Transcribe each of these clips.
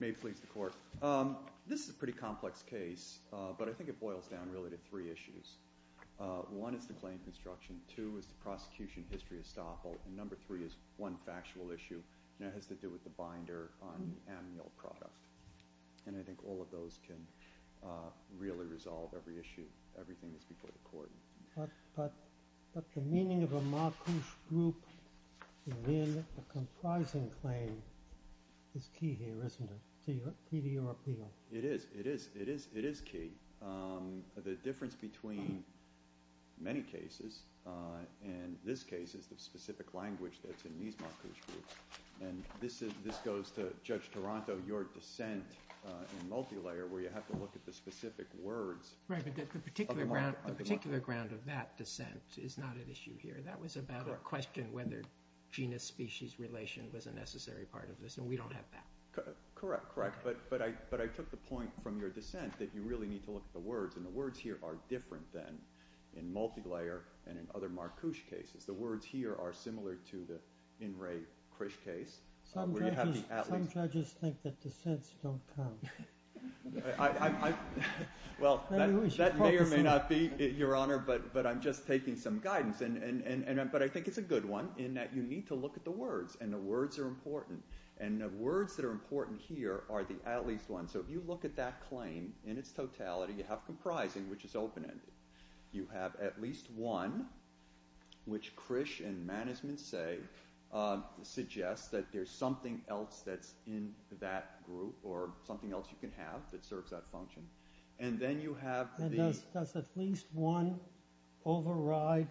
May it please the Court. This is a pretty complex case, but I think it boils down really to three issues. One is the claim construction, two is the prosecution history estoppel, and number three is one factual issue, and it has to do with the binder on the Amneal product. And I think all of those can really resolve every issue. Everything is before the Court. But the meaning of a marquise group within a comprising claim is key here, isn't it, to your appeal? It is. It is. It is. It is key. The difference between many cases and this case is the specific language that's in these marquise groups. And this goes to Judge Toronto, your dissent in multi-layer where you have to look at the specific words. Right, but the particular ground of that dissent is not an issue here. That was about a question whether genus-species relation was a necessary part of this, and we don't have that. Correct, correct, but I took the point from your dissent that you really need to look at the words, and the words here are different than in multi-layer and in other marquise cases. The words here are similar to the in-ray Krish case. Some judges think that dissents don't count. Well, that may or may not be, Your Honor, but I'm just taking some But I think it's a good one in that you need to look at the words, and the words are important, and the words that are important here are the at-least ones. So if you look at that claim in its totality, you have comprising, which is open-ended. You have at least one, which Krish and Manisman say suggests that there's something else that's in that group or something else you can have that serves that function, and then you have... Does at least one override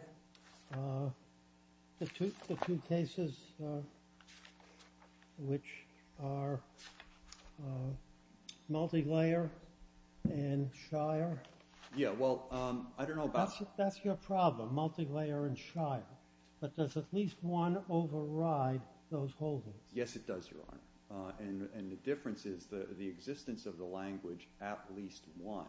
the two cases which are multi-layer and Shire? Yeah, well, I don't know about... That's your problem, multi-layer and Shire, but does at least one override those holdings? Yes, it does, Your Honor, and the difference is the existence of the language at least one.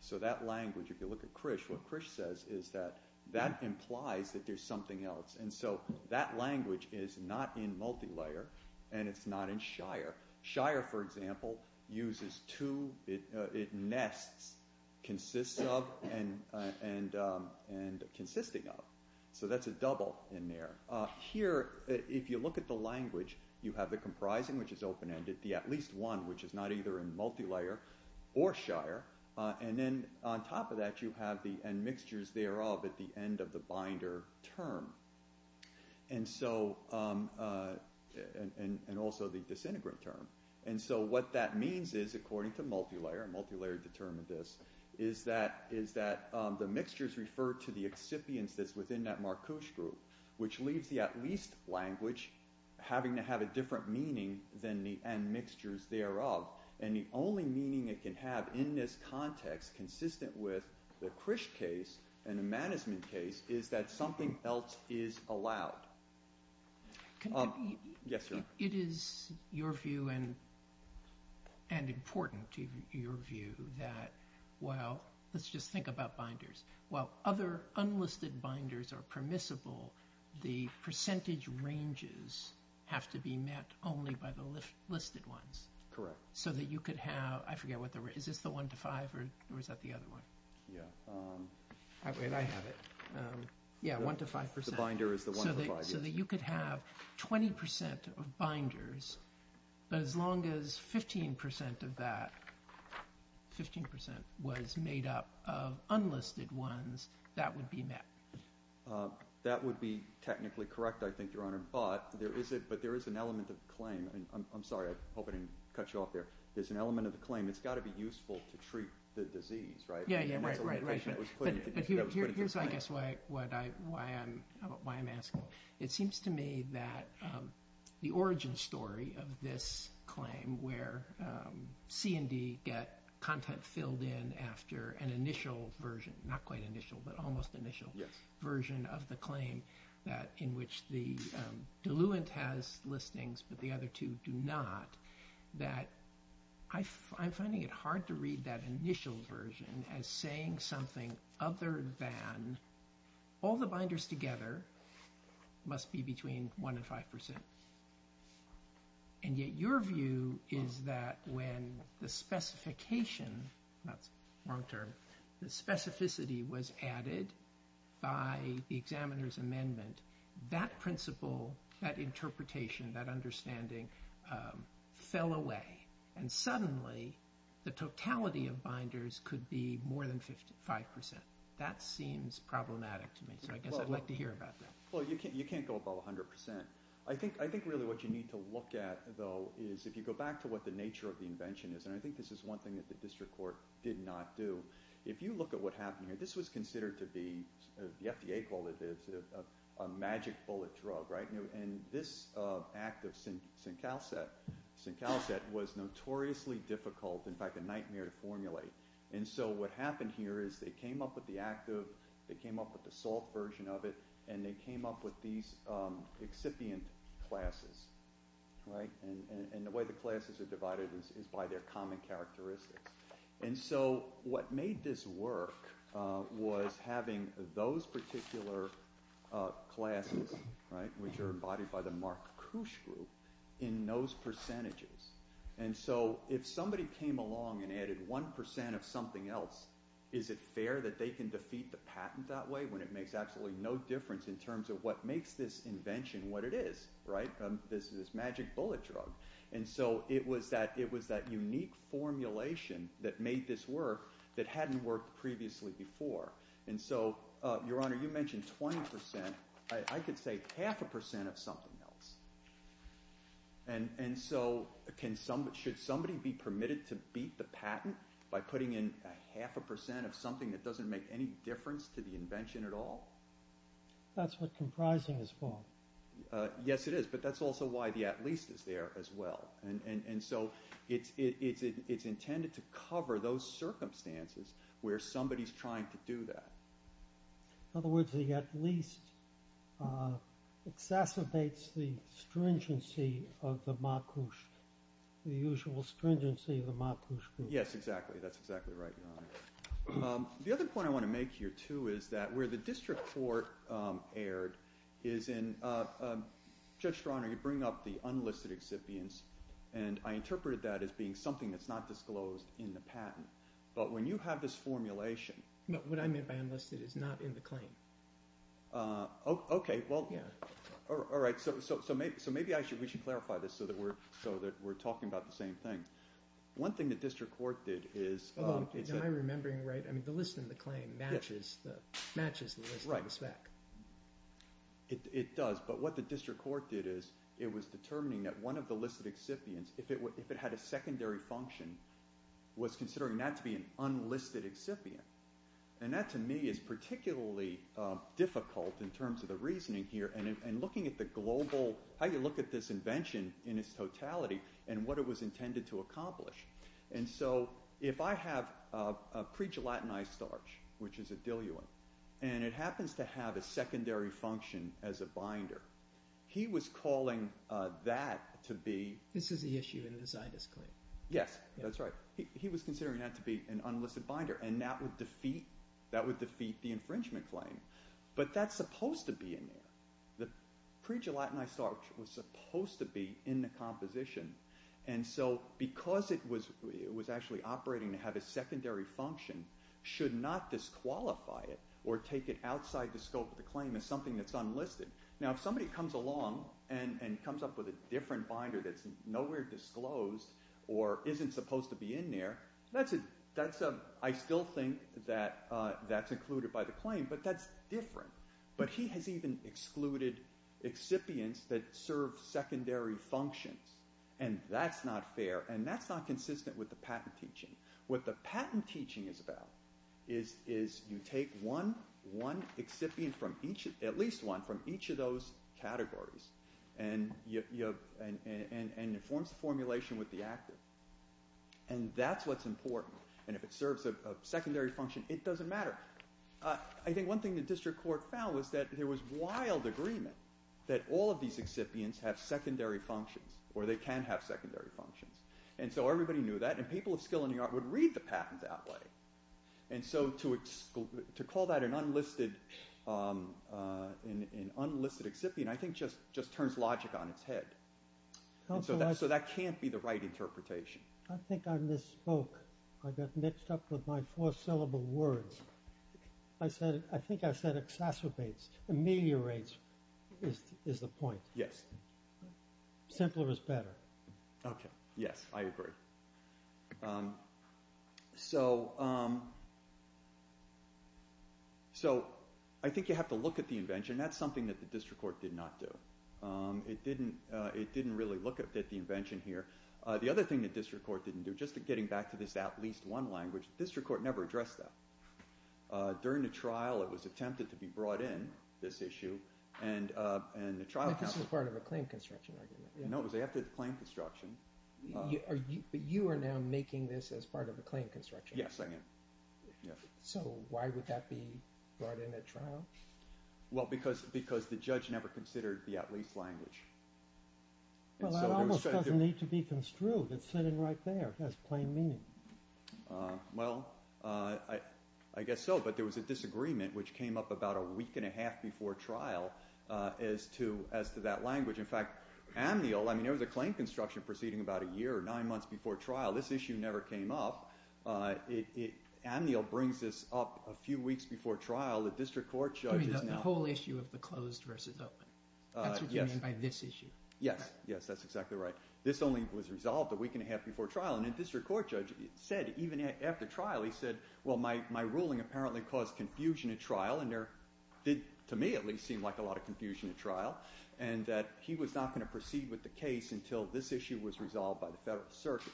So that language, if you look at Krish, what Krish says is that that implies that there's something else, and so that language is not in multi-layer, and it's not in Shire. Shire, for example, uses two... It nests consists of and consisting of, so that's a double in there. Here, if you look at the language, you have the comprising, which is open-ended, the at least one, which is not either in multi-layer or Shire, and then on top of that, you have the end mixtures thereof at the end of the binder term, and also the disintegrate term, and so what that means is, according to multi-layer, multi-layer determined this, is that the mixtures refer to the excipients that's the at least language having to have a different meaning than the end mixtures thereof, and the only meaning it can have in this context, consistent with the Krish case and a management case, is that something else is allowed. Yes, Your Honor. It is your view, and important to your view, that, well, let's just think about binders are permissible, the percentage ranges have to be met only by the listed ones. Correct. So that you could have, I forget what the rate is, is this the one to five, or is that the other one? Yeah. I have it. Yeah, one to five percent. The binder is the one to five. So that you could have 20% of binders, but as long as 15% of that 15% was made up of unlisted ones, that would be met. That would be technically correct, I think, Your Honor, but there is it, but there is an element of claim, and I'm sorry, I hope I didn't cut you off there, there's an element of the claim, it's got to be useful to treat the disease, right? Yeah, yeah, right, right, right, but here's, I guess, why I'm asking. It seems to me that the origin story of this claim, where C and D get content filled in after an initial version, not quite initial, but almost initial version of the claim, that in which the diluent has listings, but the other two do not, that I'm finding it hard to read that initial version as saying something other than all the binders, and yet your view is that when the specification, that's the wrong term, the specificity was added by the examiner's amendment, that principle, that interpretation, that understanding fell away, and suddenly the totality of binders could be more than 55%. That seems problematic to me, so I guess I'd like to hear about that. Well, you can't go above 100%. I think really what you need to look at, though, is if you go back to what the nature of the invention is, and I think this is one thing that the district court did not do, if you look at what happened here, this was considered to be, the FDA called it, a magic bullet drug, right? And this active syncalcet was notoriously difficult, in fact, a nightmare to formulate, and so what happened here is they came up with the active, they came up with the salt version of it, and they came up with these excipient classes, right? And the way the classes are divided is by their common characteristics, and so what made this work was having those particular classes, right, which are embodied by the Marc Couch group, in those percentages, and so if somebody came along and added 1% of something else, is it fair that they can defeat the patent that way when it makes absolutely no difference in terms of what makes this invention what it is, right? This is this magic bullet drug, and so it was that unique formulation that made this work that hadn't worked previously before, and so, Your Honor, you mentioned 20%, I could say half a percent of something else, and so should somebody be permitted to beat the patent by putting in a half a percent of something that doesn't make any difference to the patent at all? That's what comprising is for. Yes, it is, but that's also why the at least is there as well, and so it's intended to cover those circumstances where somebody's trying to do that. In other words, the at least exacerbates the stringency of the Marc Couch, the usual stringency of the Marc Couch group. Yes, exactly, that's exactly right, Your Honor. The other point I want to make here, too, is that where the district court erred is in, Judge Stroner, you bring up the unlisted excipients, and I interpreted that as being something that's not disclosed in the patent, but when you have this formulation... What I meant by unlisted is not in the claim. Okay, well, yeah, all right, so maybe we should clarify this so that we're talking about the same thing. One thing the district court did is... Am I remembering right? I mean, the list in the claim matches the list in the spec. It does, but what the district court did is it was determining that one of the listed excipients, if it had a secondary function, was considering that to be an unlisted excipient, and that to me is particularly difficult in terms of the reasoning here and looking at the global... How you look at this invention in its totality and what it intended to accomplish, and so if I have a pre-gelatinized starch, which is a diluent, and it happens to have a secondary function as a binder, he was calling that to be... This is the issue in the Zydus claim. Yes, that's right. He was considering that to be an unlisted binder, and that would defeat the infringement claim, but that's supposed to be in there. The pre-gelatinized starch was supposed to be in the composition, and so because it was actually operating to have a secondary function, should not disqualify it or take it outside the scope of the claim as something that's unlisted. Now if somebody comes along and comes up with a different binder that's nowhere disclosed or isn't supposed to be in there, I still think that that's included by the claim, but that's different. But he has even excluded excipients that serve secondary functions, and that's not fair, and that's not consistent with the patent teaching. What the patent teaching is about is you take one excipient from each, at least one, from each of those categories, and it forms the formulation with the actor, and that's what's important, and if it serves a secondary function, it doesn't matter. I think one thing the district court found was that there was wild agreement that all of these excipients have secondary functions, or they can have secondary functions, and so everybody knew that, and people of skill in New York would read the patent that way, and so to call that an unlisted excipient I think just turns logic on its head, so that can't be the right interpretation. I think I misspoke. I got mixed up with my four-syllable words. I think I said exacerbates, ameliorates, is the point. Yes. Simpler is better. Okay, yes, I agree. So I think you have to look at the invention. That's something that the district court did not do. It didn't really look at the invention here. The other thing the district court didn't do, just getting back to this at least one language, the district court never addressed that. During the trial, it was attempted to be brought in, this issue, and the trial... But this is part of a claim construction argument. No, it was after the claim construction. But you are now making this as part of a claim construction argument. Yes, I am. So why would that be brought in at trial? Well, because the judge never considered the at least language. Well, it almost doesn't need to be construed. It's sitting right there. It has plain meaning. Well, I guess so, but there was a disagreement which came up about a week and a half before trial as to that language. In fact, ameliorate, I mean, there was a claim construction proceeding about a year or nine months before trial. This issue never came up. Ameliorate brings this up a few weeks before trial. The district court judge... You mean the whole issue of the closed versus open. That's what you mean by this issue. Yes. Yes, that's exactly right. This only was resolved a week and a half before trial. And the district court judge said, even after trial, he said, well, my ruling apparently caused confusion at trial, and there did, to me at least, seem like a lot of confusion at trial, and that he was not going to proceed with the case until this issue was resolved by the federal circuit.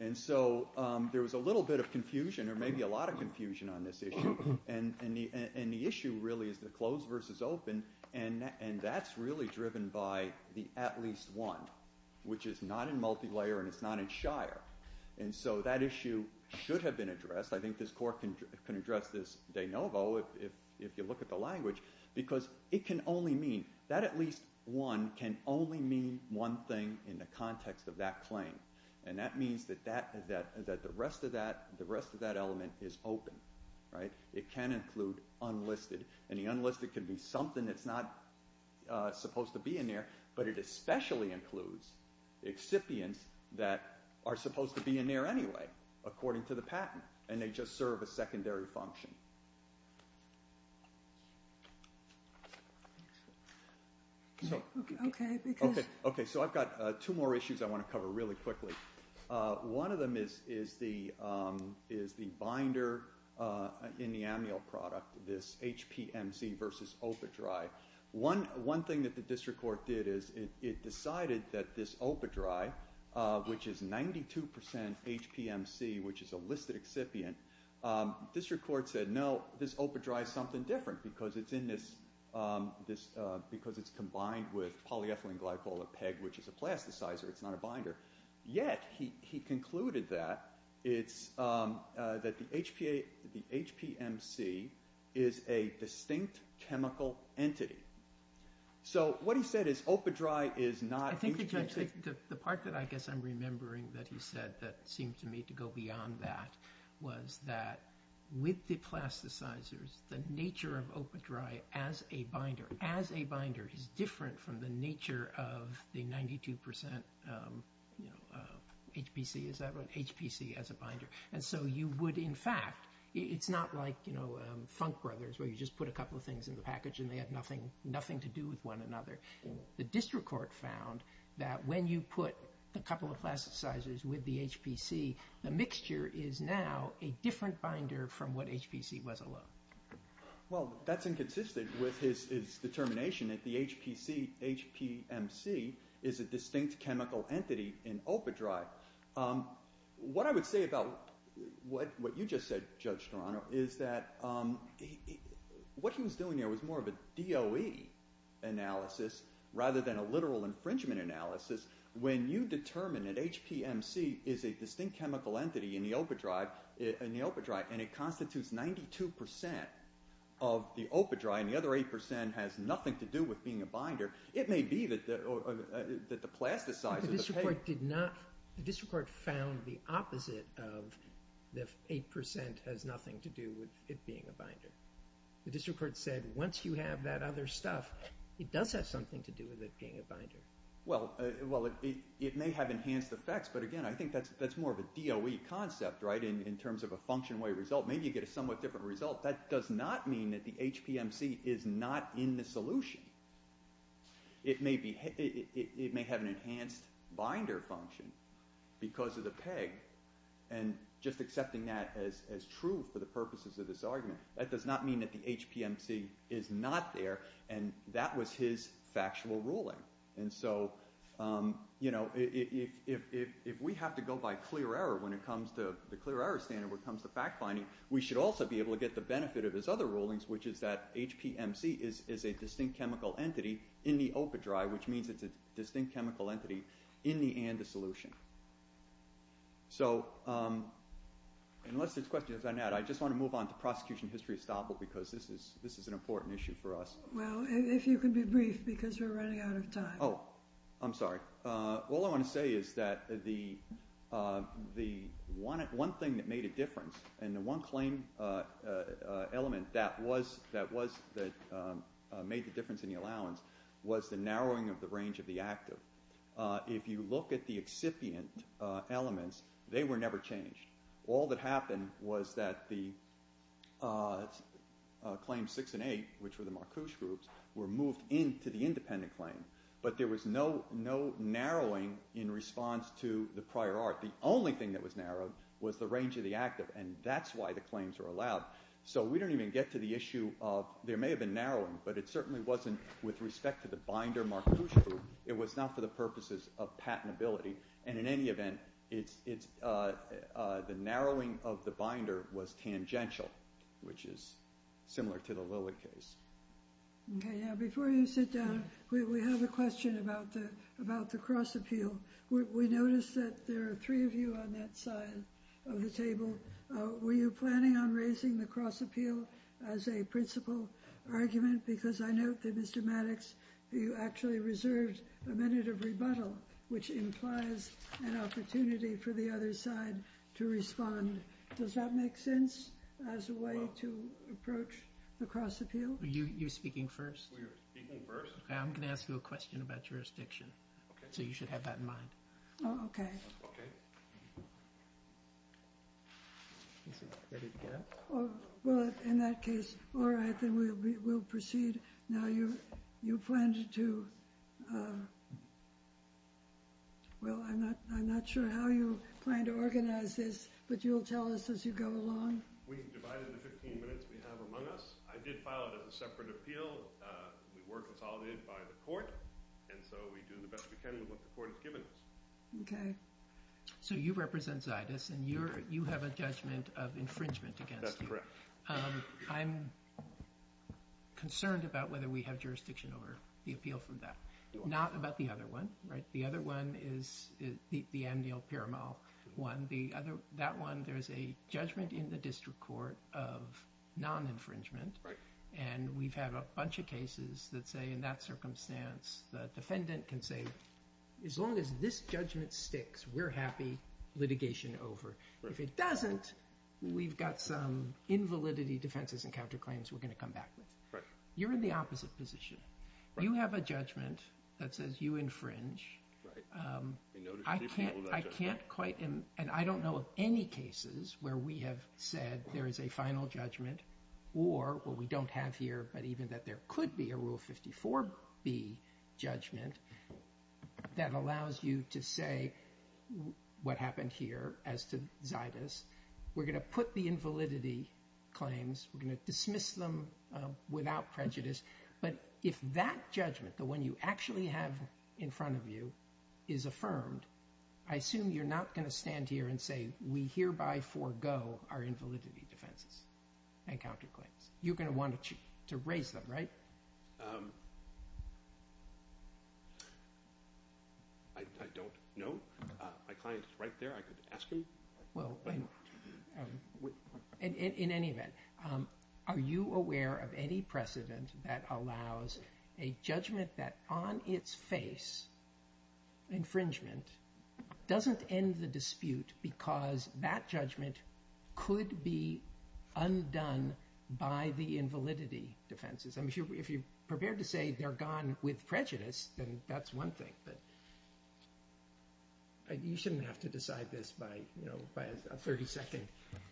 And so there was a little bit of confusion or maybe a lot of confusion on this issue. And the issue really is the closed versus open, and that's really driven by the at least one, which is not in multilayer and it's not in Shire. And so that issue should have been addressed. I think this court can address this de novo if you look at the language, because it can only mean... That at least one can only mean one thing in the context of that claim, and that means that the rest of that element is open. It can include unlisted, and the unlisted could be something that's not supposed to be in there, but it especially includes excipients that are supposed to be in there anyway, according to the patent, and they just serve a secondary function. Okay, so I've got two more issues I want to cover really quickly. One of them is the binder in the amnial product, this HPMC versus OPA-DRI. One thing that the district court did is it decided that this OPA-DRI, which is 92% HPMC, which is a listed excipient, district court said, no, this OPA-DRI is something different because it's in this... because it's combined with polyethylene glycol, a PEG, which is a plasticizer, it's not a binder, yet he concluded that the HPMC is a distinct chemical entity. So what he said is OPA-DRI is not HPMC... I think the part that I guess I'm remembering that he said that seemed to me to go beyond that was that with the plasticizers, the nature of OPA-DRI as a binder is different from the nature of the 92% HPC as a binder. And so you would, in fact, it's not like Funk Brothers, where you just put a couple of things in the package and they have nothing to do with one another. The district court found that when you put a couple of plasticizers with the HPC, the mixture is now a different binder from what HPC was alone. Well, that's inconsistent with his determination that the HPMC is a distinct chemical entity in OPA-DRI. What I would say about what you just said, Judge Toronto, is that what he was doing there was more of a DOE analysis rather than a literal infringement analysis. When you determine that HPMC is a distinct chemical entity in the OPA-DRI, and it constitutes 92% of the OPA-DRI and the other 8% has nothing to do with being a binder, it may be that the plasticizers... The district court found the opposite of the 8% has nothing to do with it being a binder. The district court said once you have that other stuff, it does have something to do with it being a binder. Well, it may have enhanced effects, but again, I think that's more of a DOE concept, right, in terms of a function-way result. Maybe you get a somewhat different result. That does not mean that the HPMC is not in the solution. It may have an enhanced binder function because of the peg, and just accepting that as true for the purposes of this argument, that does not mean that the HPMC is not there, and that was his factual ruling. If we have to go by clear error when it comes to the clear error standard when it comes to fact-finding, we should also be able to get the benefit of his other rulings, which is that HPMC is a distinct chemical entity in the OPA-DRI, which means it's a distinct chemical entity in the ANDA solution. Unless there's questions, I just want to move on to prosecution history estoppel because this is an important issue for us. Well, if you could be brief because we're running out of time. Oh, I'm sorry. All I want to say is that the one thing that made a difference and the one claim element that made the difference in the allowance was the narrowing of the range of the active. If you look at the excipient elements, they were never changed. All that happened was that the claims 6 and 8, which were the Marcouche groups, were moved into the independent claim, but there was no narrowing in response to the prior art. The only thing that was narrowed was the range of the active, and that's why the claims were allowed. So we don't even get to the issue of there may have been narrowing, but it certainly wasn't with respect to the binder Marcouche group. It was not for the purposes of patentability, and in any event, the narrowing of the binder was tangential, which is similar to the Lillard case. Okay, now before you sit down, we have a question about the cross appeal. We noticed that there are three of you on that side of the table. Were you planning on raising the cross appeal as a principal argument because I note that Mr. Maddox, you actually reserved a minute of rebuttal, which implies an opportunity for the other side to respond. Does that make sense as a way to approach the cross appeal? Were you speaking first? We were speaking first. Okay, I'm going to ask you a question about jurisdiction. Okay. So you should have that in mind. Okay. Okay. Well, in that case, all right, then we'll proceed. Now you plan to – well, I'm not sure how you plan to organize this, but you'll tell us as you go along. We've divided the 15 minutes we have among us. I did file it as a separate appeal. We were consolidated by the court, and so we do the best we can with what the court has given us. Okay. So you represent Zaidis, and you have a judgment of infringement against him. That's correct. I'm concerned about whether we have jurisdiction over the appeal from that, not about the other one, right? The other one is the Amnil-Piramal one. That one, there's a judgment in the district court of non-infringement, and we've had a bunch of cases that say, in that circumstance, the defendant can say, as long as this judgment sticks, we're happy litigation over. If it doesn't, we've got some invalidity defenses and counterclaims we're going to come back with. You're in the opposite position. You have a judgment that says you infringe. I can't quite – and I don't know of any cases where we have said there is a final judgment or what we don't have here, but even that there could be a Rule 54B judgment that allows you to say what happened here as to Zaidis. We're going to put the invalidity claims. We're going to dismiss them without prejudice. But if that judgment, the one you actually have in front of you, is affirmed, I assume you're not going to stand here and say, we hereby forego our invalidity defenses and counterclaims. You're going to want to raise them, right? I don't know. My client is right there. I could ask him. Well, in any event, are you aware of any precedent that allows a judgment that on its face, infringement, doesn't end the dispute because that judgment could be undone by the invalidity defenses? I mean, if you're prepared to say they're gone with prejudice, then that's one thing. But you shouldn't have to decide this by a 30-second conversation.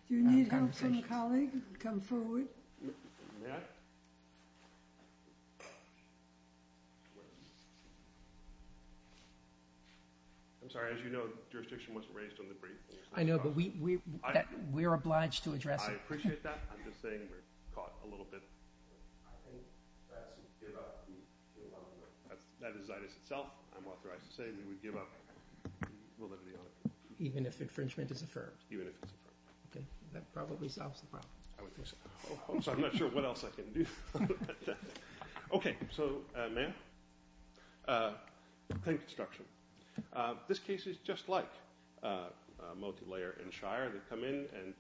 Do you need help from a colleague? Come forward. May I? I'm sorry. As you know, jurisdiction wasn't raised on the brief. I know, but we're obliged to address it. I appreciate that. I'm just saying we're caught a little bit. I think that's a give up. That is Zaitis itself. I'm authorized to say that we give up the validity on it. Even if infringement is affirmed? Even if it's affirmed. Okay. That probably solves the problem. I would think so. I'm sorry. I'm not sure what else I can do. Okay. So may I? Claim construction. This case is just like Multilayer and Shire. They come in and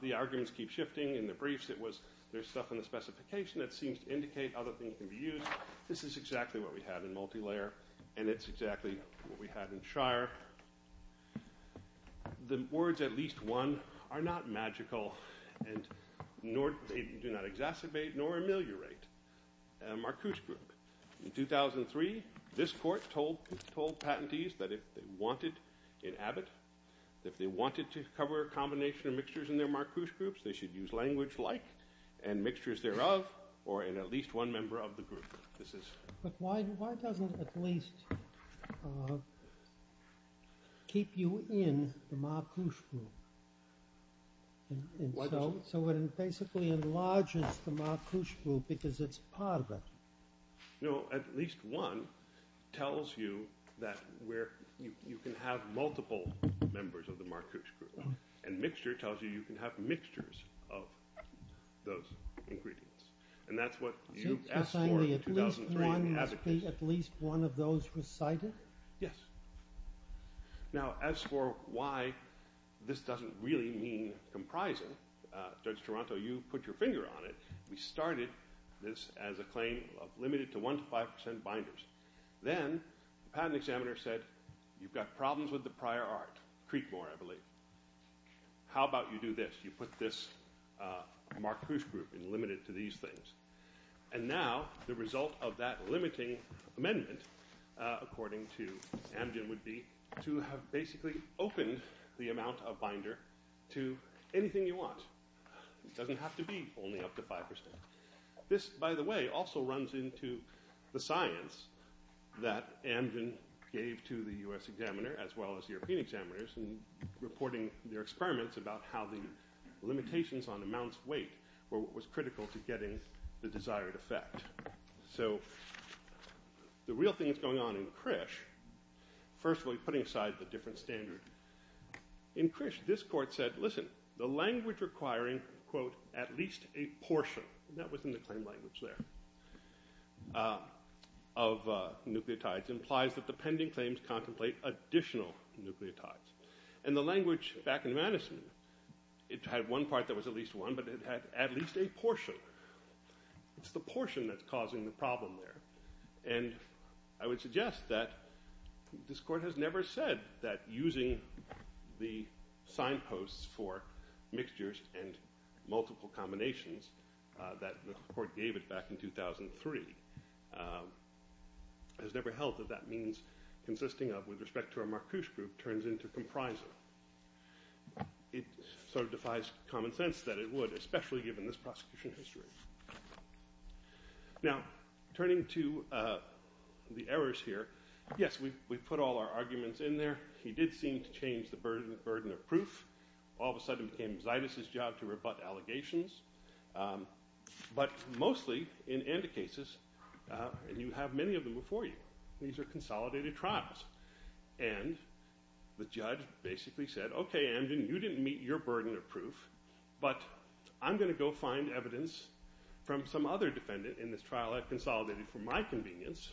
the arguments keep shifting. In the briefs it was there's stuff in the specification that seems to indicate other things can be used. This is exactly what we had in Multilayer, and it's exactly what we had in Shire. The words, at least one, are not magical, and they do not exacerbate nor ameliorate. In 2003, this Court told patentees that if they wanted in Abbott, if they wanted to cover a combination of mixtures in their Marcouche groups, they should use language like, and mixtures thereof, or in at least one member of the group. But why doesn't at least keep you in the Marcouche group? So it basically enlarges the Marcouche group because it's part of it. No, at least one tells you that you can have multiple members of the Marcouche group, and mixture tells you you can have mixtures of those ingredients. And that's what you asked for in 2003 in Abbott. At least one of those recited? Yes. Now, as for why this doesn't really mean comprising, Judge Toronto, you put your finger on it. We started this as a claim of limited to 1% to 5% binders. Then the patent examiner said, you've got problems with the prior art, Creekmore, I believe. How about you do this? You put this Marcouche group in limited to these things. And now the result of that limiting amendment, according to Amgen, would be to have basically opened the amount of binder to anything you want. It doesn't have to be only up to 5%. This, by the way, also runs into the science that Amgen gave to the U.S. examiner as well as the European examiners in reporting their experiments about how the limitations on amounts of weight were what was critical to getting the desired effect. So the real thing that's going on in Krish, firstly putting aside the different standard, in Krish this court said, listen, the language requiring, quote, at least a portion, and that was in the claim language there, of nucleotides implies that the pending claims contemplate additional nucleotides. And the language back in Madison, it had one part that was at least one, but it had at least a portion. It's the portion that's causing the problem there. And I would suggest that this court has never said that using the signposts for mixtures and multiple combinations, that the court gave it back in 2003, has never held that that means consisting of with respect to a Marcouche group turns into comprising. It sort of defies common sense that it would, especially given this prosecution history. Now, turning to the errors here, yes, we put all our arguments in there. He did seem to change the burden of proof. All of a sudden it became Zaitis' job to rebut allegations. But mostly in ANDA cases, and you have many of them before you, these are consolidated trials. And the judge basically said, okay, you didn't meet your burden of proof, but I'm going to go find evidence from some other defendant in this trial I've consolidated for my convenience.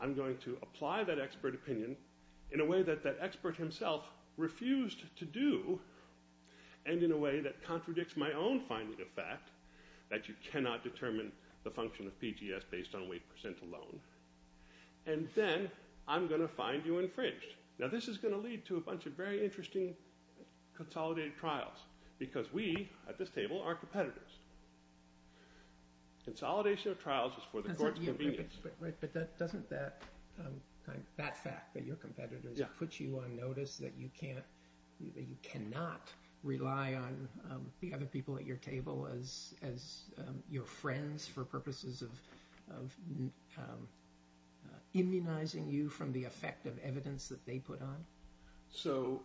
I'm going to apply that expert opinion in a way that that expert himself refused to do, and in a way that contradicts my own finding of fact, that you cannot determine the function of PGS based on weight percent alone. And then I'm going to find you infringed. Now, this is going to lead to a bunch of very interesting consolidated trials because we at this table are competitors. Consolidation of trials is for the court's convenience. But doesn't that fact that you're competitors puts you on notice that you can't rely on the other people at your table as your friends for purposes of immunizing you from the effect of evidence that they put on? So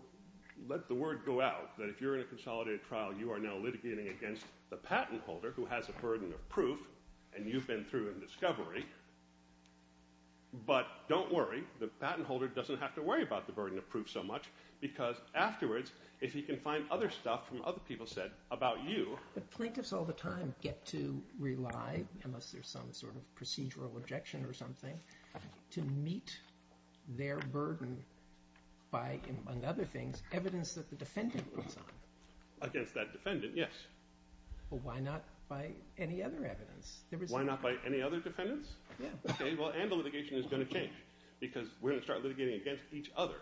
let the word go out that if you're in a consolidated trial, you are now litigating against the patent holder who has a burden of proof, and you've been through in discovery. But don't worry, the patent holder doesn't have to worry about the burden of proof so much because afterwards if he can find other stuff from other people said about you. Plaintiffs all the time get to rely, unless there's some sort of procedural objection or something, to meet their burden by, among other things, evidence that the defendant puts on. Against that defendant, yes. But why not by any other evidence? Why not by any other defendants? Okay, well, and the litigation is going to change because we're going to start litigating against each other.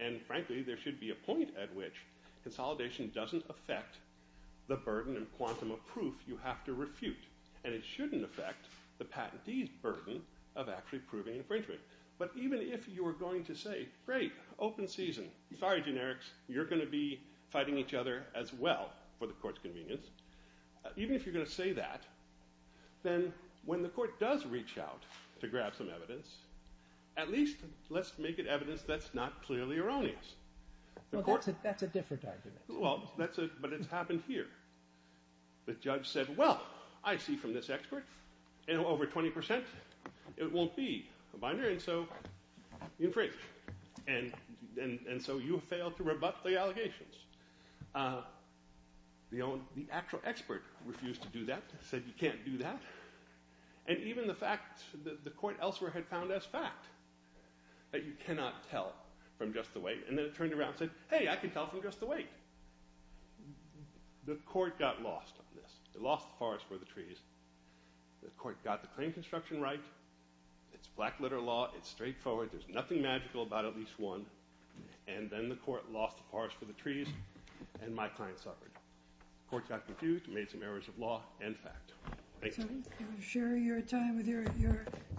And frankly, there should be a point at which consolidation doesn't affect the burden and quantum of proof you have to refute. And it shouldn't affect the patentee's burden of actually proving infringement. But even if you are going to say, great, open season, sorry generics, you're going to be fighting each other as well for the court's convenience. Even if you're going to say that, then when the court does reach out to grab some evidence, at least let's make it evidence that's not clearly erroneous. Well, that's a different argument. Well, but it's happened here. The judge said, well, I see from this expert, over 20% it won't be a binder, and so you infringe. And so you have failed to rebut the allegations. The actual expert refused to do that, said you can't do that. And even the fact that the court elsewhere had found as fact that you cannot tell from just the weight, and then it turned around and said, hey, I can tell from just the weight. The court got lost on this. It lost the forest for the trees. The court got the claim construction right. It's black-letter law. It's straightforward. There's nothing magical about at least one. And then the court lost the forest for the trees, and my client suffered. The court got confused and made some errors of law and fact. Thank you. I'm sharing your time with your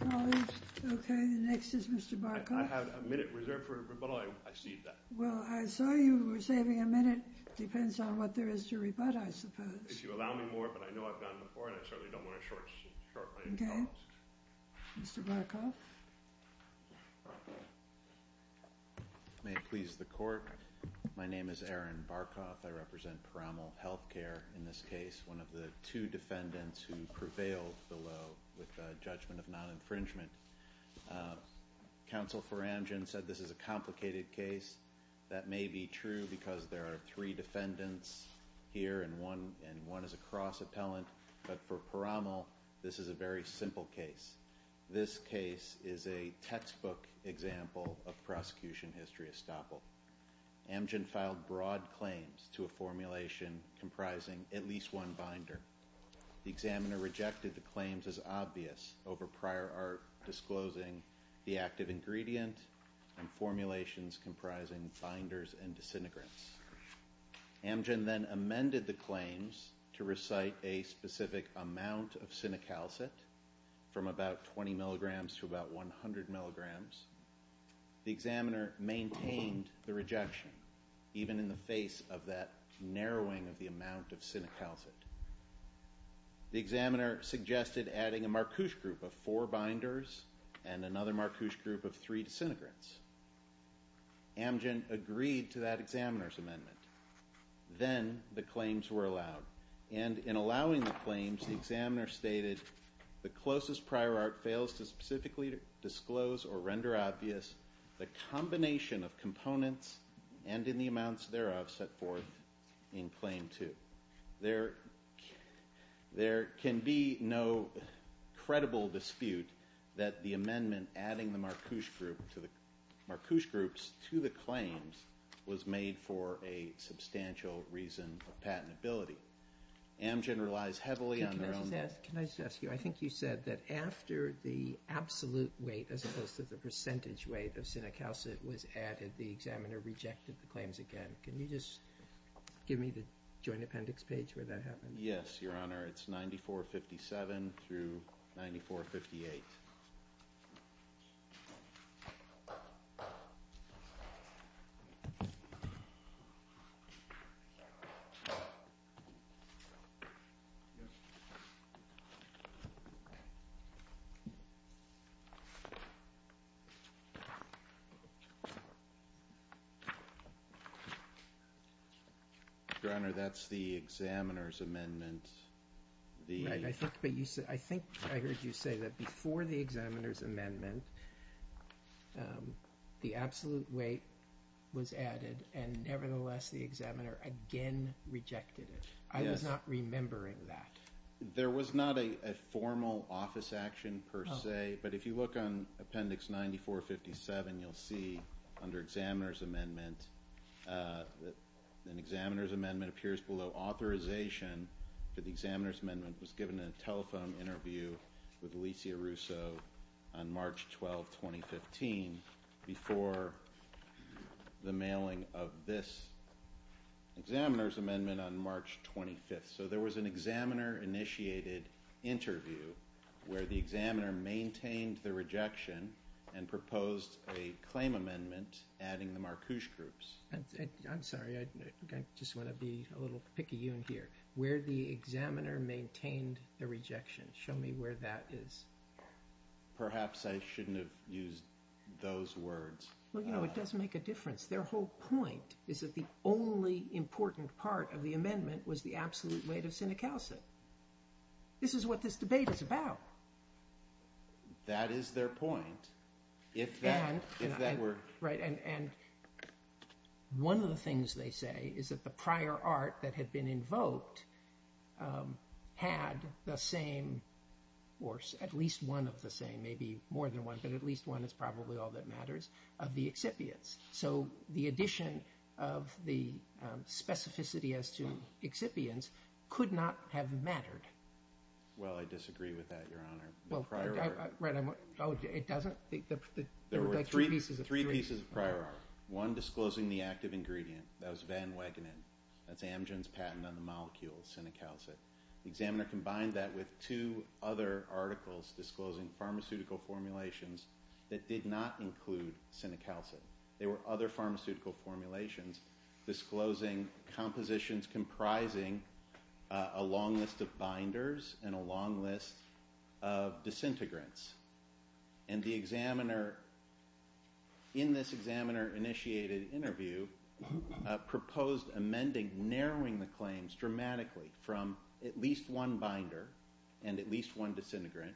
colleagues. Okay, the next is Mr. Barkoff. I have a minute reserved for rebuttal. I cede that. Well, I saw you were saving a minute. It depends on what there is to rebut, I suppose. If you allow me more, but I know I've done it before, and I certainly don't want to short my colleagues. Okay. Mr. Barkoff. May it please the court, my name is Aaron Barkoff. I represent Paramal Healthcare in this case, one of the two defendants who prevailed below with a judgment of non-infringement. Counsel for Amgen said this is a complicated case. That may be true because there are three defendants here, and one is a cross-appellant. But for Paramal, this is a very simple case. This case is a textbook example of prosecution history estoppel. Amgen filed broad claims to a formulation comprising at least one binder. The examiner rejected the claims as obvious over prior art disclosing the active ingredient and formulations comprising binders and disintegrants. Amgen then amended the claims to recite a specific amount of sinicalcid from about 20 milligrams to about 100 milligrams. The examiner maintained the rejection, even in the face of that narrowing of the amount of sinicalcid. The examiner suggested adding a Marcouche group of four binders and another Marcouche group of three disintegrants. Amgen agreed to that examiner's amendment. Then the claims were allowed. And in allowing the claims, the examiner stated, the closest prior art fails to specifically disclose or render obvious the combination of components and in the amounts thereof set forth in claim two. There can be no credible dispute that the amendment adding the Marcouche groups to the claims was made for a substantial reason of patentability. Amgen relies heavily on their own... Can I just ask you? I think you said that after the absolute weight as opposed to the percentage weight of sinicalcid was added, the examiner rejected the claims again. Can you just give me the joint appendix page where that happened? Yes, Your Honor. It's 9457 through 9458. Your Honor, that's the examiner's amendment. I think I heard you say that before the examiner's amendment, the absolute weight was added and nevertheless the examiner again rejected it. I was not remembering that. There was not a formal office action per se, but if you look on appendix 9457, you'll see under examiner's amendment, an examiner's amendment appears below. Authorization for the examiner's amendment was given in a telephone interview with Alicia Russo on March 12, 2015, before the mailing of this examiner's amendment on March 25th. So there was an examiner-initiated interview where the examiner maintained the rejection and proposed a claim amendment adding the Marcuse groups. I'm sorry, I just want to be a little picky here. Where the examiner maintained the rejection. Show me where that is. Perhaps I shouldn't have used those words. Well, you know, it does make a difference. Their whole point is that the only important part of the amendment was the absolute weight of sinicalcid. This is what this debate is about. That is their point. If that were... Right, and one of the things they say is that the prior art that had been invoked had the same, or at least one of the same, maybe more than one, but at least one is probably all that matters, of the excipients. So the addition of the specificity as to excipients could not have mattered. Well, I disagree with that, Your Honor. Well, it doesn't? There were three pieces of prior art. One disclosing the active ingredient. That was van Wegenen. That's Amgen's patent on the molecule sinicalcid. The examiner combined that with two other articles disclosing pharmaceutical formulations that did not include sinicalcid. There were other pharmaceutical formulations disclosing compositions comprising a long list of binders and a long list of disintegrants. And the examiner, in this examiner-initiated interview, proposed amending, narrowing the claims dramatically from at least one binder and at least one disintegrant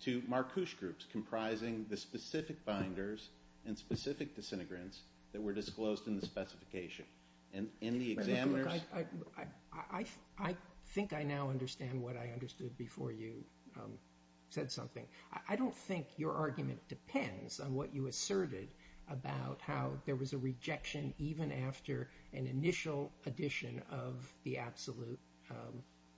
to Marcouche groups comprising the specific binders and specific disintegrants that were disclosed in the specification. I think I now understand what I understood before you said something. I don't think your argument depends on what you asserted about how there was a rejection even after an initial addition of the absolute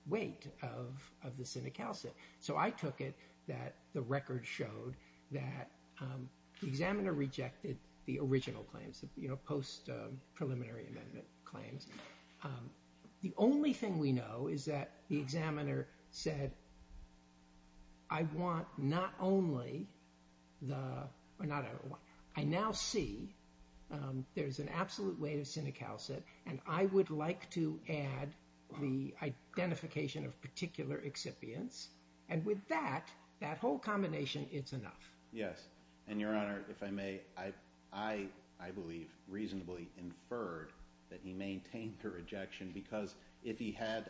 weight of the sinicalcid. So I took it that the record showed that the examiner rejected the original claims, the post-preliminary amendment claims. The only thing we know is that the examiner said, I now see there's an absolute weight of sinicalcid, and I would like to add the identification of particular excipients. And with that, that whole combination, it's enough. Yes. And, Your Honor, if I may, I believe reasonably inferred that he maintained the rejection because if he had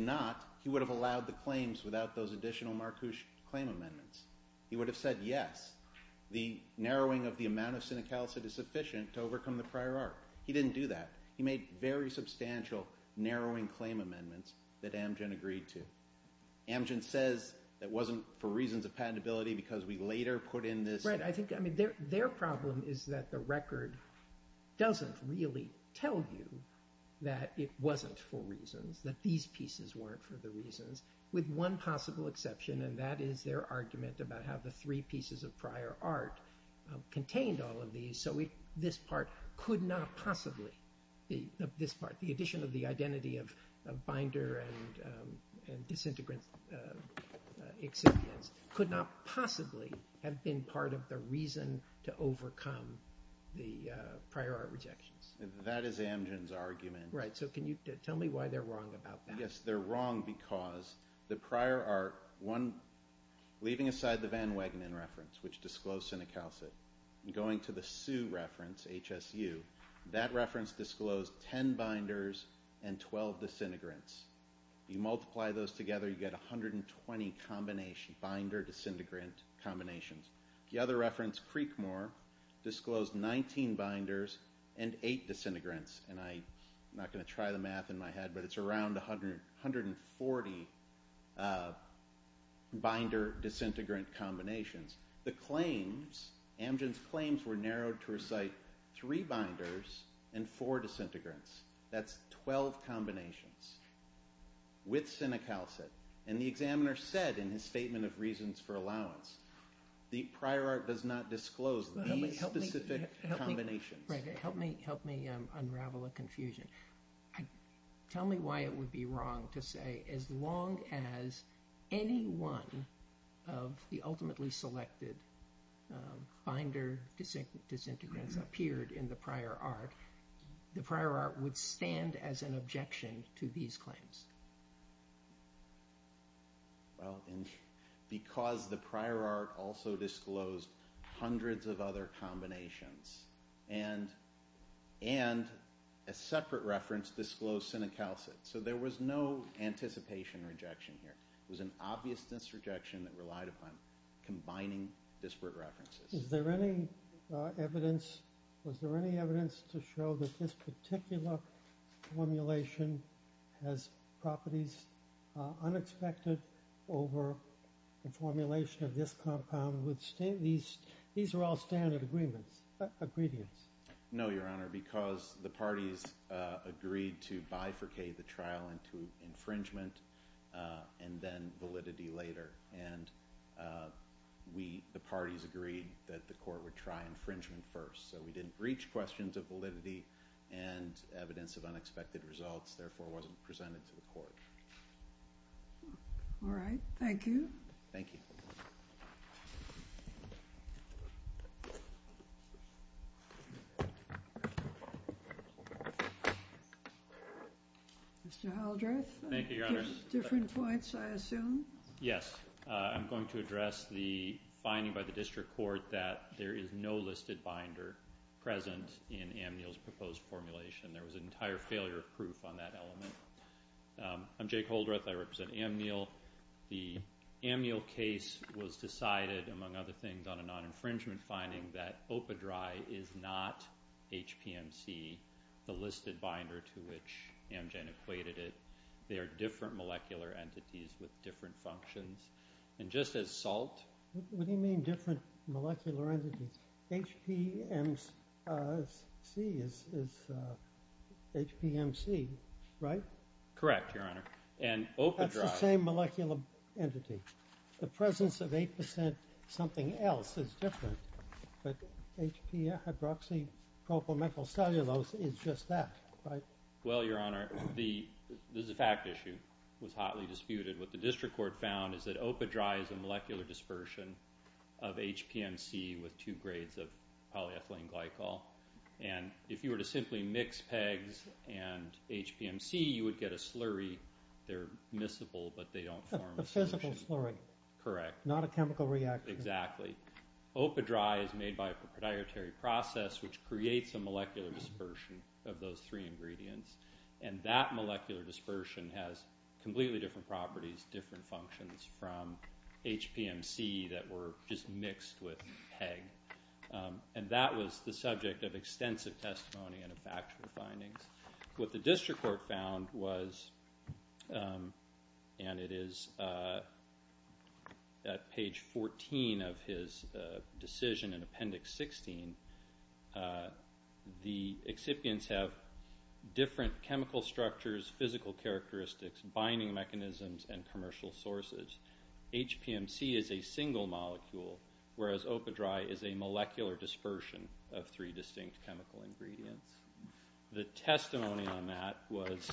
not, he would have allowed the claims without those additional Marcouche claim amendments. He would have said, yes, the narrowing of the amount of sinicalcid is sufficient to overcome the prior art. He didn't do that. He made very substantial narrowing claim amendments that Amgen agreed to. Amgen says it wasn't for reasons of patentability because we later put in this. Right. I think their problem is that the record doesn't really tell you that it wasn't for reasons, that these pieces weren't for the reasons, with one possible exception, and that is their argument about how the three pieces of prior art contained all of these. So this part could not possibly, this part, the addition of the identity of binder and disintegrant excipients, could not possibly have been part of the reason to overcome the prior art rejections. That is Amgen's argument. Right. So can you tell me why they're wrong about that? Yes. They're wrong because the prior art, one, leaving aside the Van Wagenen reference, which disclosed sinicalcid, and going to the Sue reference, HSU, that reference disclosed 10 binders and 12 disintegrants. You multiply those together, you get 120 binder-disintegrant combinations. The other reference, Creekmore, disclosed 19 binders and 8 disintegrants, and I'm not going to try the math in my head, but it's around 140 binder-disintegrant combinations. The claims, Amgen's claims, were narrowed to recite 3 binders and 4 disintegrants. That's 12 combinations. With sinicalcid. And the examiner said in his statement of reasons for allowance, the prior art does not disclose these specific combinations. Right. Help me unravel a confusion. Tell me why it would be wrong to say as long as any one of the ultimately selected binder-disintegrants appeared in the prior art, the prior art would stand as an objection to these claims. Well, because the prior art also disclosed hundreds of other combinations, and a separate reference disclosed sinicalcid, so there was no anticipation rejection here. It was an obviousness rejection that relied upon combining disparate references. Is there any evidence to show that this particular formulation has properties unexpected over the formulation of this compound? These are all standard agreements. No, Your Honor, because the parties agreed to bifurcate the trial into infringement and then validity later. And the parties agreed that the court would try infringement first, so we didn't reach questions of validity and evidence of unexpected results, therefore it wasn't presented to the court. All right. Thank you. Thank you. Mr. Haldreth? Thank you, Your Honor. Different points, I assume? Yes. I'm going to address the finding by the district court that there is no listed binder present in Amnil's proposed formulation. There was an entire failure of proof on that element. I'm Jake Haldreth. I represent Amnil. The Amnil case was decided, among other things, on a non-infringement finding that Opadry is not HPMC, the listed binder to which Amgen equated it. They are different molecular entities with different functions. And just as salt. What do you mean different molecular entities? HPMC is HPMC, right? Correct, Your Honor. And Opadry. That's the same molecular entity. The presence of 8% something else is different. But HP hydroxypropyl methyl cellulose is just that, right? Well, Your Honor, this is a fact issue. It was hotly disputed. What the district court found is that Opadry is a molecular dispersion of HPMC with two grades of polyethylene glycol. And if you were to simply mix PEGS and HPMC, you would get a slurry. They're miscible, but they don't form a solution. A physical slurry. Correct. Not a chemical reactant. Exactly. Opadry is made by a proprietary process, which creates a molecular dispersion of those three ingredients. And that molecular dispersion has completely different properties, different functions from HPMC that were just mixed with PEG. And that was the subject of extensive testimony and factual findings. What the district court found was, and it is at page 14 of his decision in Appendix 16, the excipients have different chemical structures, physical characteristics, binding mechanisms, and commercial sources. HPMC is a single molecule, whereas Opadry is a molecular dispersion of three distinct chemical ingredients. The testimony on that was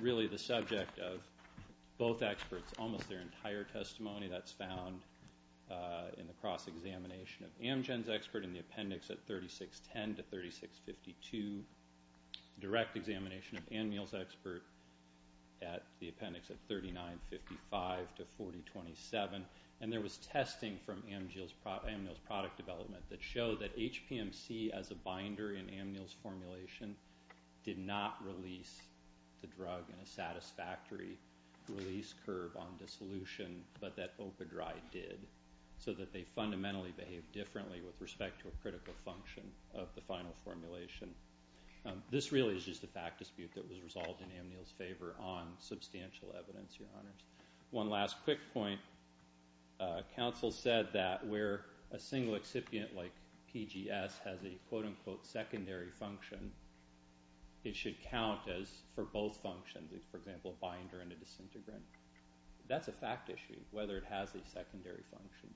really the subject of both experts, almost their entire testimony. That's found in the cross-examination of Amgen's expert in the appendix at 3610-3652, direct examination of Ammiel's expert at the appendix at 3955-4027. And there was testing from Ammiel's product development that showed that HPMC as a binder in Ammiel's formulation did not release the drug in a satisfactory release curve on dissolution, but that Opadry did, so that they fundamentally behaved differently with respect to a critical function of the final formulation. This really is just a fact dispute that was resolved in Ammiel's favor on substantial evidence, Your Honors. One last quick point. Counsel said that where a single excipient like PGS has a quote-unquote secondary function, it should count for both functions, for example, a binder and a disintegrant. That's a fact issue, whether it has a secondary function.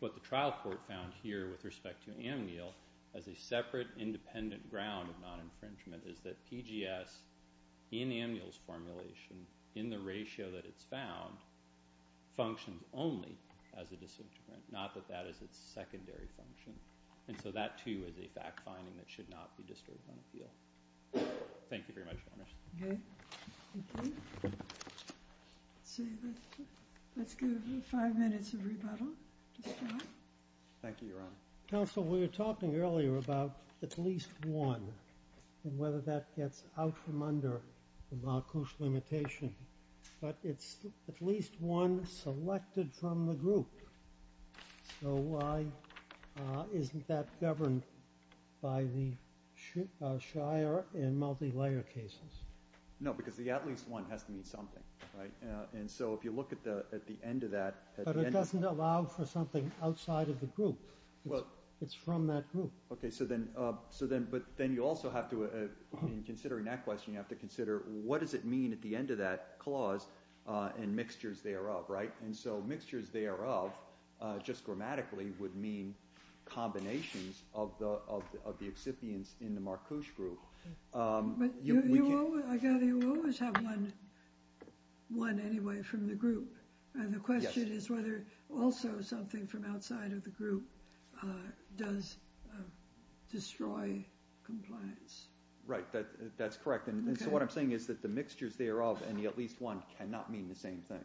What the trial court found here with respect to Ammiel, as a separate independent ground of non-infringement, is that PGS in Ammiel's formulation, in the ratio that it's found, functions only as a disintegrant, not that that is its secondary function. And so that, too, is a fact finding that should not be disturbed on appeal. Thank you very much, Your Honors. Okay. Thank you. Let's give five minutes of rebuttal to Scott. Thank you, Your Honor. Counsel, we were talking earlier about at least one and whether that gets out from under the Marcouche limitation. But it's at least one selected from the group. So why isn't that governed by the Shire and multi-layer cases? No, because the at least one has to mean something, right? And so if you look at the end of that, at the end of the group it's something outside of the group. It's from that group. Okay, but then you also have to, in considering that question, you have to consider what does it mean at the end of that clause and mixtures thereof, right? And so mixtures thereof, just grammatically, would mean combinations of the excipients in the Marcouche group. I gather you always have one anyway from the group. Yes. And the question is whether also something from outside of the group does destroy compliance. Right, that's correct. And so what I'm saying is that the mixtures thereof and the at least one cannot mean the same thing,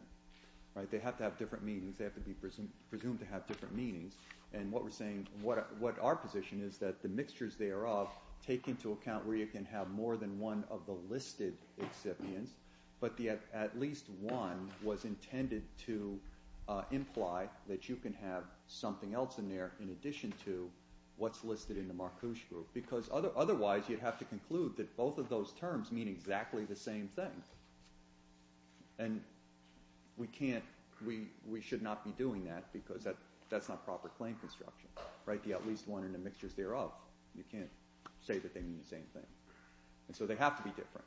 right? They have to have different meanings. They have to be presumed to have different meanings. And what we're saying, what our position is that the mixtures thereof take into account where you can have more than one of the listed excipients, but the at least one was intended to imply that you can have something else in there in addition to what's listed in the Marcouche group. Because otherwise you'd have to conclude that both of those terms mean exactly the same thing. And we should not be doing that because that's not proper claim construction, right? The at least one and the mixtures thereof, you can't say that they mean the same thing. And so they have to be different.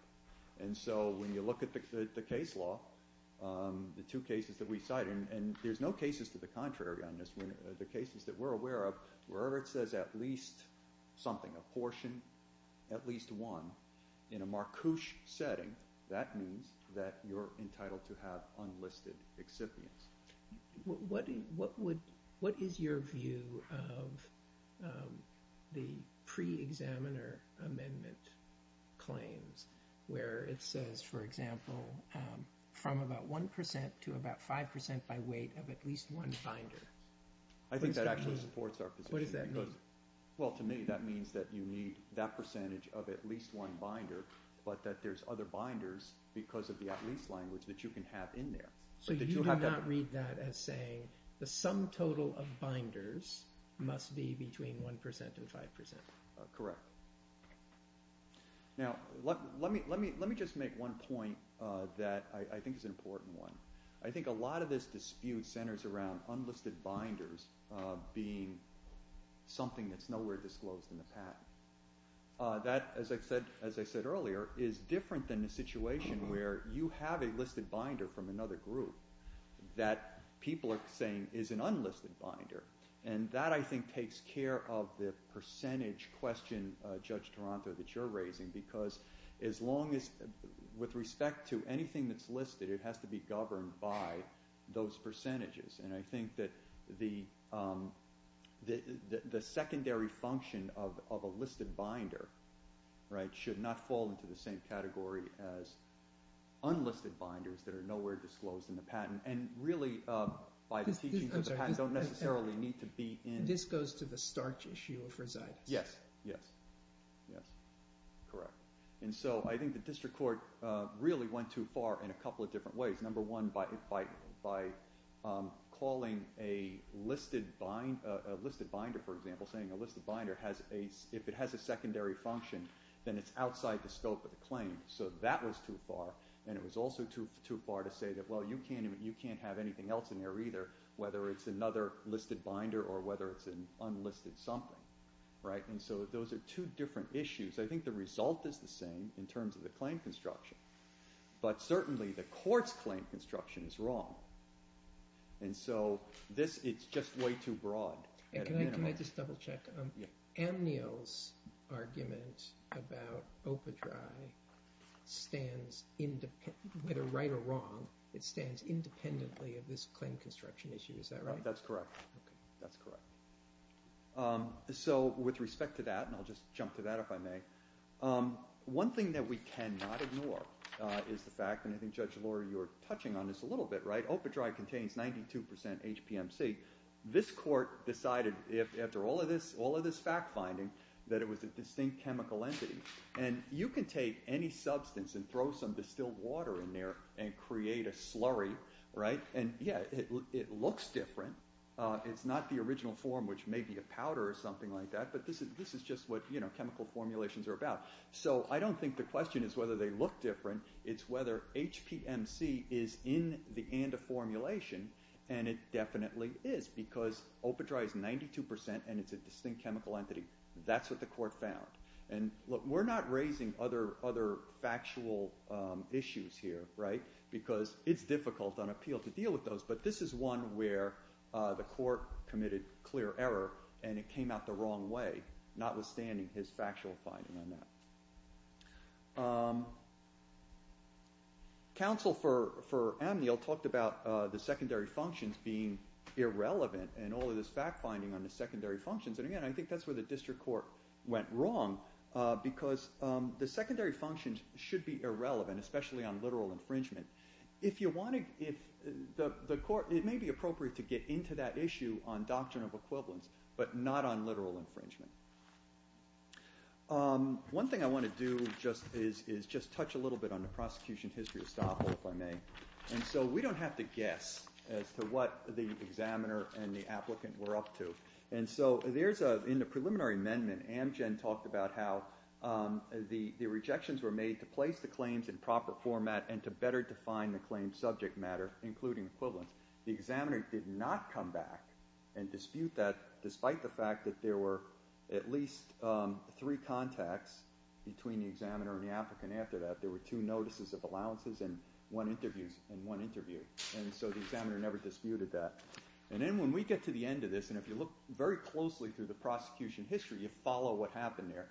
And so when you look at the case law, the two cases that we cite, and there's no cases to the contrary on this. The cases that we're aware of, wherever it says at least something, a portion, at least one, in a Marcouche setting, that means that you're entitled to have unlisted excipients. What is your view of the pre-examiner amendment claims where it says, for example, from about 1% to about 5% by weight of at least one binder? I think that actually supports our position. What does that mean? Well, to me, that means that you need that percentage of at least one binder, but that there's other binders because of the at least language that you can have in there. So you do not read that as saying the sum total of binders must be between 1% and 5%? Correct. Now, let me just make one point that I think is an important one. I think a lot of this dispute centers around unlisted binders being something that's nowhere disclosed in the patent. That, as I said earlier, is different than the situation where you have a listed binder from another group that people are saying is an unlisted binder. And that, I think, takes care of the percentage question, Judge Taranto, that you're raising, because with respect to anything that's listed, it has to be governed by those percentages. And I think that the secondary function of a listed binder should not fall into the same category as unlisted binders that are nowhere disclosed in the patent. And really, by the teachings of the patent, don't necessarily need to be in... This goes to the starch issue of Rositas. Yes. Yes. Yes. Correct. And so I think the district court really went too far in a couple of different ways. Number one, by calling a listed binder, for example, saying a listed binder, if it has a secondary function, then it's outside the scope of the claim. So that was too far. And it was also too far to say that, well, you can't have anything else in there either, whether it's another listed binder or whether it's an unlisted something. And so those are two different issues. I think the result is the same in terms of the claim construction, but certainly the court's claim construction is wrong. And so it's just way too broad. And can I just double-check? Anne Neal's argument about OPA-DRI stands... Whether right or wrong, it stands independently of this claim construction issue. Is that right? That's correct. That's correct. So with respect to that, and I'll just jump to that if I may, one thing that we cannot ignore is the fact... And I think, Judge Lohrer, you were touching on this a little bit, right? OPA-DRI contains 92% HPMC. This court decided, after all of this fact-finding, that it was a distinct chemical entity. And you can take any substance and throw some distilled water in there and create a slurry, right? And, yeah, it looks different. It's not the original form, which may be a powder or something like that, but this is just what chemical formulations are about. So I don't think the question is whether they look different. It's whether HPMC is in the ANDA formulation, and it definitely is, because OPA-DRI is 92% and it's a distinct chemical entity. That's what the court found. And, look, we're not raising other factual issues here, right? Because it's difficult on appeal to deal with those, but this is one where the court committed clear error and it came out the wrong way, notwithstanding his factual finding on that. Counsel for Amniel talked about the secondary functions being irrelevant and all of this fact-finding on the secondary functions, and, again, I think that's where the district court went wrong, because the secondary functions should be irrelevant, especially on literal infringement. If you want to... It may be appropriate to get into that issue on doctrine of equivalence, but not on literal infringement. One thing I want to do is just touch a little bit on the prosecution history of Stoffel, if I may. And so we don't have to guess as to what the examiner and the applicant were up to. And so in the preliminary amendment, Amgen talked about how the rejections were made to place the claims in proper format and to better define the claims' subject matter, including equivalence. The examiner did not come back and dispute that, and there were at least three contacts between the examiner and the applicant after that. There were two notices of allowances and one interview. And so the examiner never disputed that. And then when we get to the end of this, and if you look very closely through the prosecution history, you follow what happened there,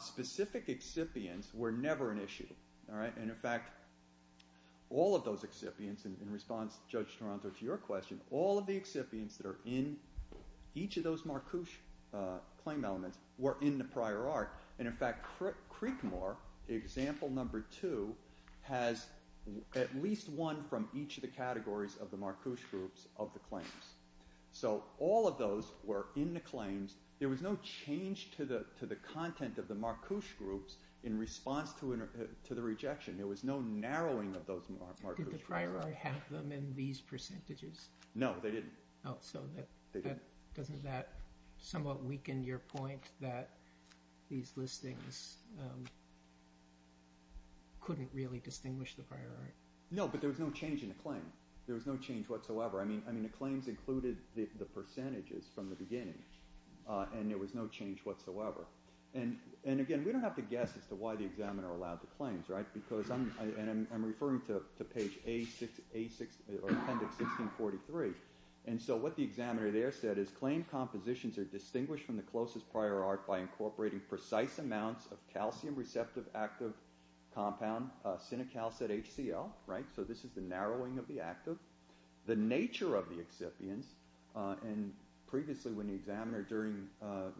specific excipients were never an issue, all right? And, in fact, all of those excipients, in response, Judge Toronto, to your question, all of the excipients that are in each of those Marcouche claim elements were in the prior art. And, in fact, Creekmore, example number two, has at least one from each of the categories of the Marcouche groups of the claims. So all of those were in the claims. There was no change to the content of the Marcouche groups There was no narrowing of those Marcouche groups. Did the prior art have them in these percentages? No, they didn't. So doesn't that somewhat weaken your point that these listings couldn't really distinguish the prior art? No, but there was no change in the claim. There was no change whatsoever. I mean, the claims included the percentages from the beginning, and there was no change whatsoever. And, again, we don't have to guess as to why the examiner allowed the claims, right? Because, and I'm referring to page A6, or appendix 1643, and so what the examiner there said is, claim compositions are distinguished from the closest prior art by incorporating precise amounts of calcium receptive active compound, sinicalcid HCL, right? So this is the narrowing of the active. The nature of the excipients, and previously when the examiner, during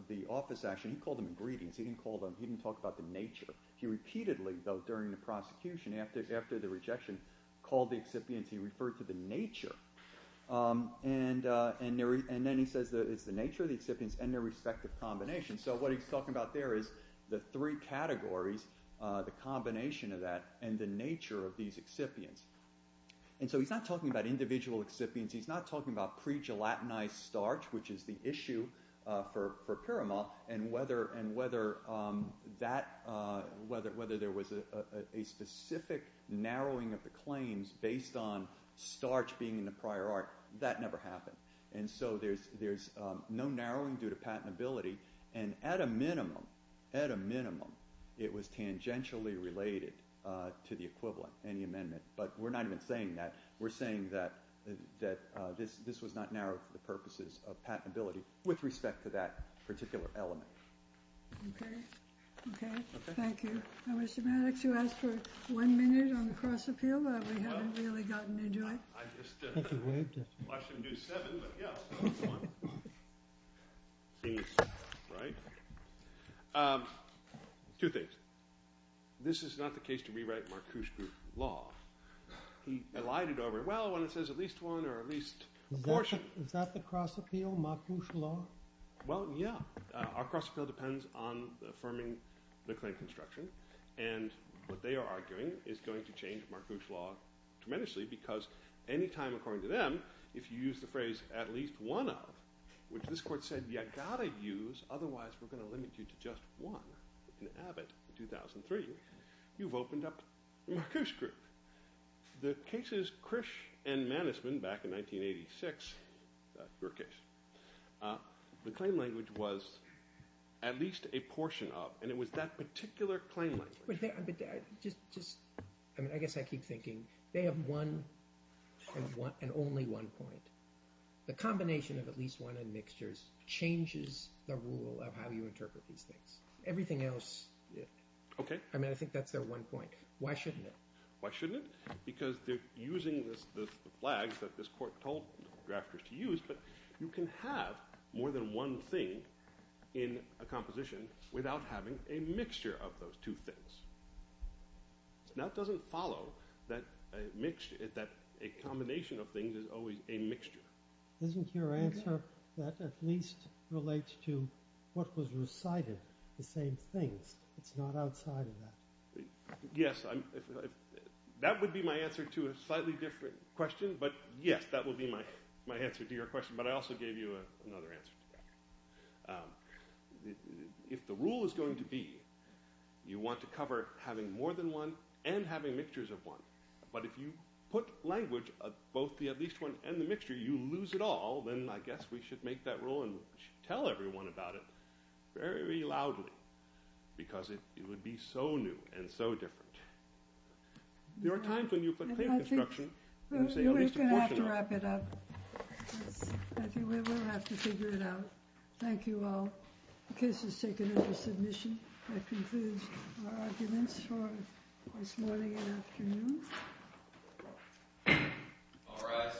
the office action, he called them ingredients. He didn't call them, he didn't talk about the nature. He repeatedly, though, during the prosecution, after the rejection, called the excipients. He referred to the nature, and then he says it's the nature of the excipients and their respective combinations. So what he's talking about there is the three categories, the combination of that, and the nature of these excipients. And so he's not talking about individual excipients. He's not talking about pre-gelatinized starch, which is the issue for Pyramol, and whether there was a specific narrowing of the claims based on starch being in the prior art. That never happened. And so there's no narrowing due to patentability, and at a minimum, at a minimum, it was tangentially related to the equivalent in the amendment. But we're not even saying that. We're saying that this was not narrowed for the purposes of patentability with respect to that particular element. Okay. Okay. Thank you. Now, Mr. Maddox, you asked for one minute on the cross-appeal, but we haven't really gotten to do it. I just watched him do seven, but yeah, that was one. Right? Two things. This is not the case to rewrite Marcuse's Law. He elided over it. Well, when it says at least one or at least a portion... Is that the cross-appeal, Marcuse's Law? Well, yeah. Our cross-appeal depends on affirming the claim construction, and what they are arguing is going to change Marcuse's Law tremendously because any time, according to them, if you use the phrase at least one of, which this court said you've got to use, otherwise we're going to limit you to just one in Abbott in 2003, you've opened up the Marcuse group. The cases Krish and Mannesman back in 1986, your case, the claim language was at least a portion of, and it was that particular claim language. Just, I mean, I guess I keep thinking they have one and only one point. The combination of at least one and mixtures changes the rule of how you interpret these things. Everything else, I mean, I think that's their one point. Why shouldn't it? Why shouldn't it? Because they're using the flags that this court told drafters to use, but you can have more than one thing in a composition without having a mixture of those two things. That doesn't follow that a combination of things is always a mixture. Isn't your answer that at least relates to what was recited, the same things? It's not outside of that. Yes, that would be my answer to a slightly different question, but yes, that would be my answer to your question, but I also gave you another answer to that. If the rule is going to be you want to cover having more than one and having mixtures of one, but if you put language of both the at least one and the mixture, you lose it all, then I guess we should make that rule and tell everyone about it very, very loudly because it would be so new and so different. There are times when you put clear construction and you say at least a portion of it. We're going to have to wrap it up. I think we're going to have to figure it out. Thank you all. The case is taken under submission. That concludes our arguments for this morning and afternoon. All rise.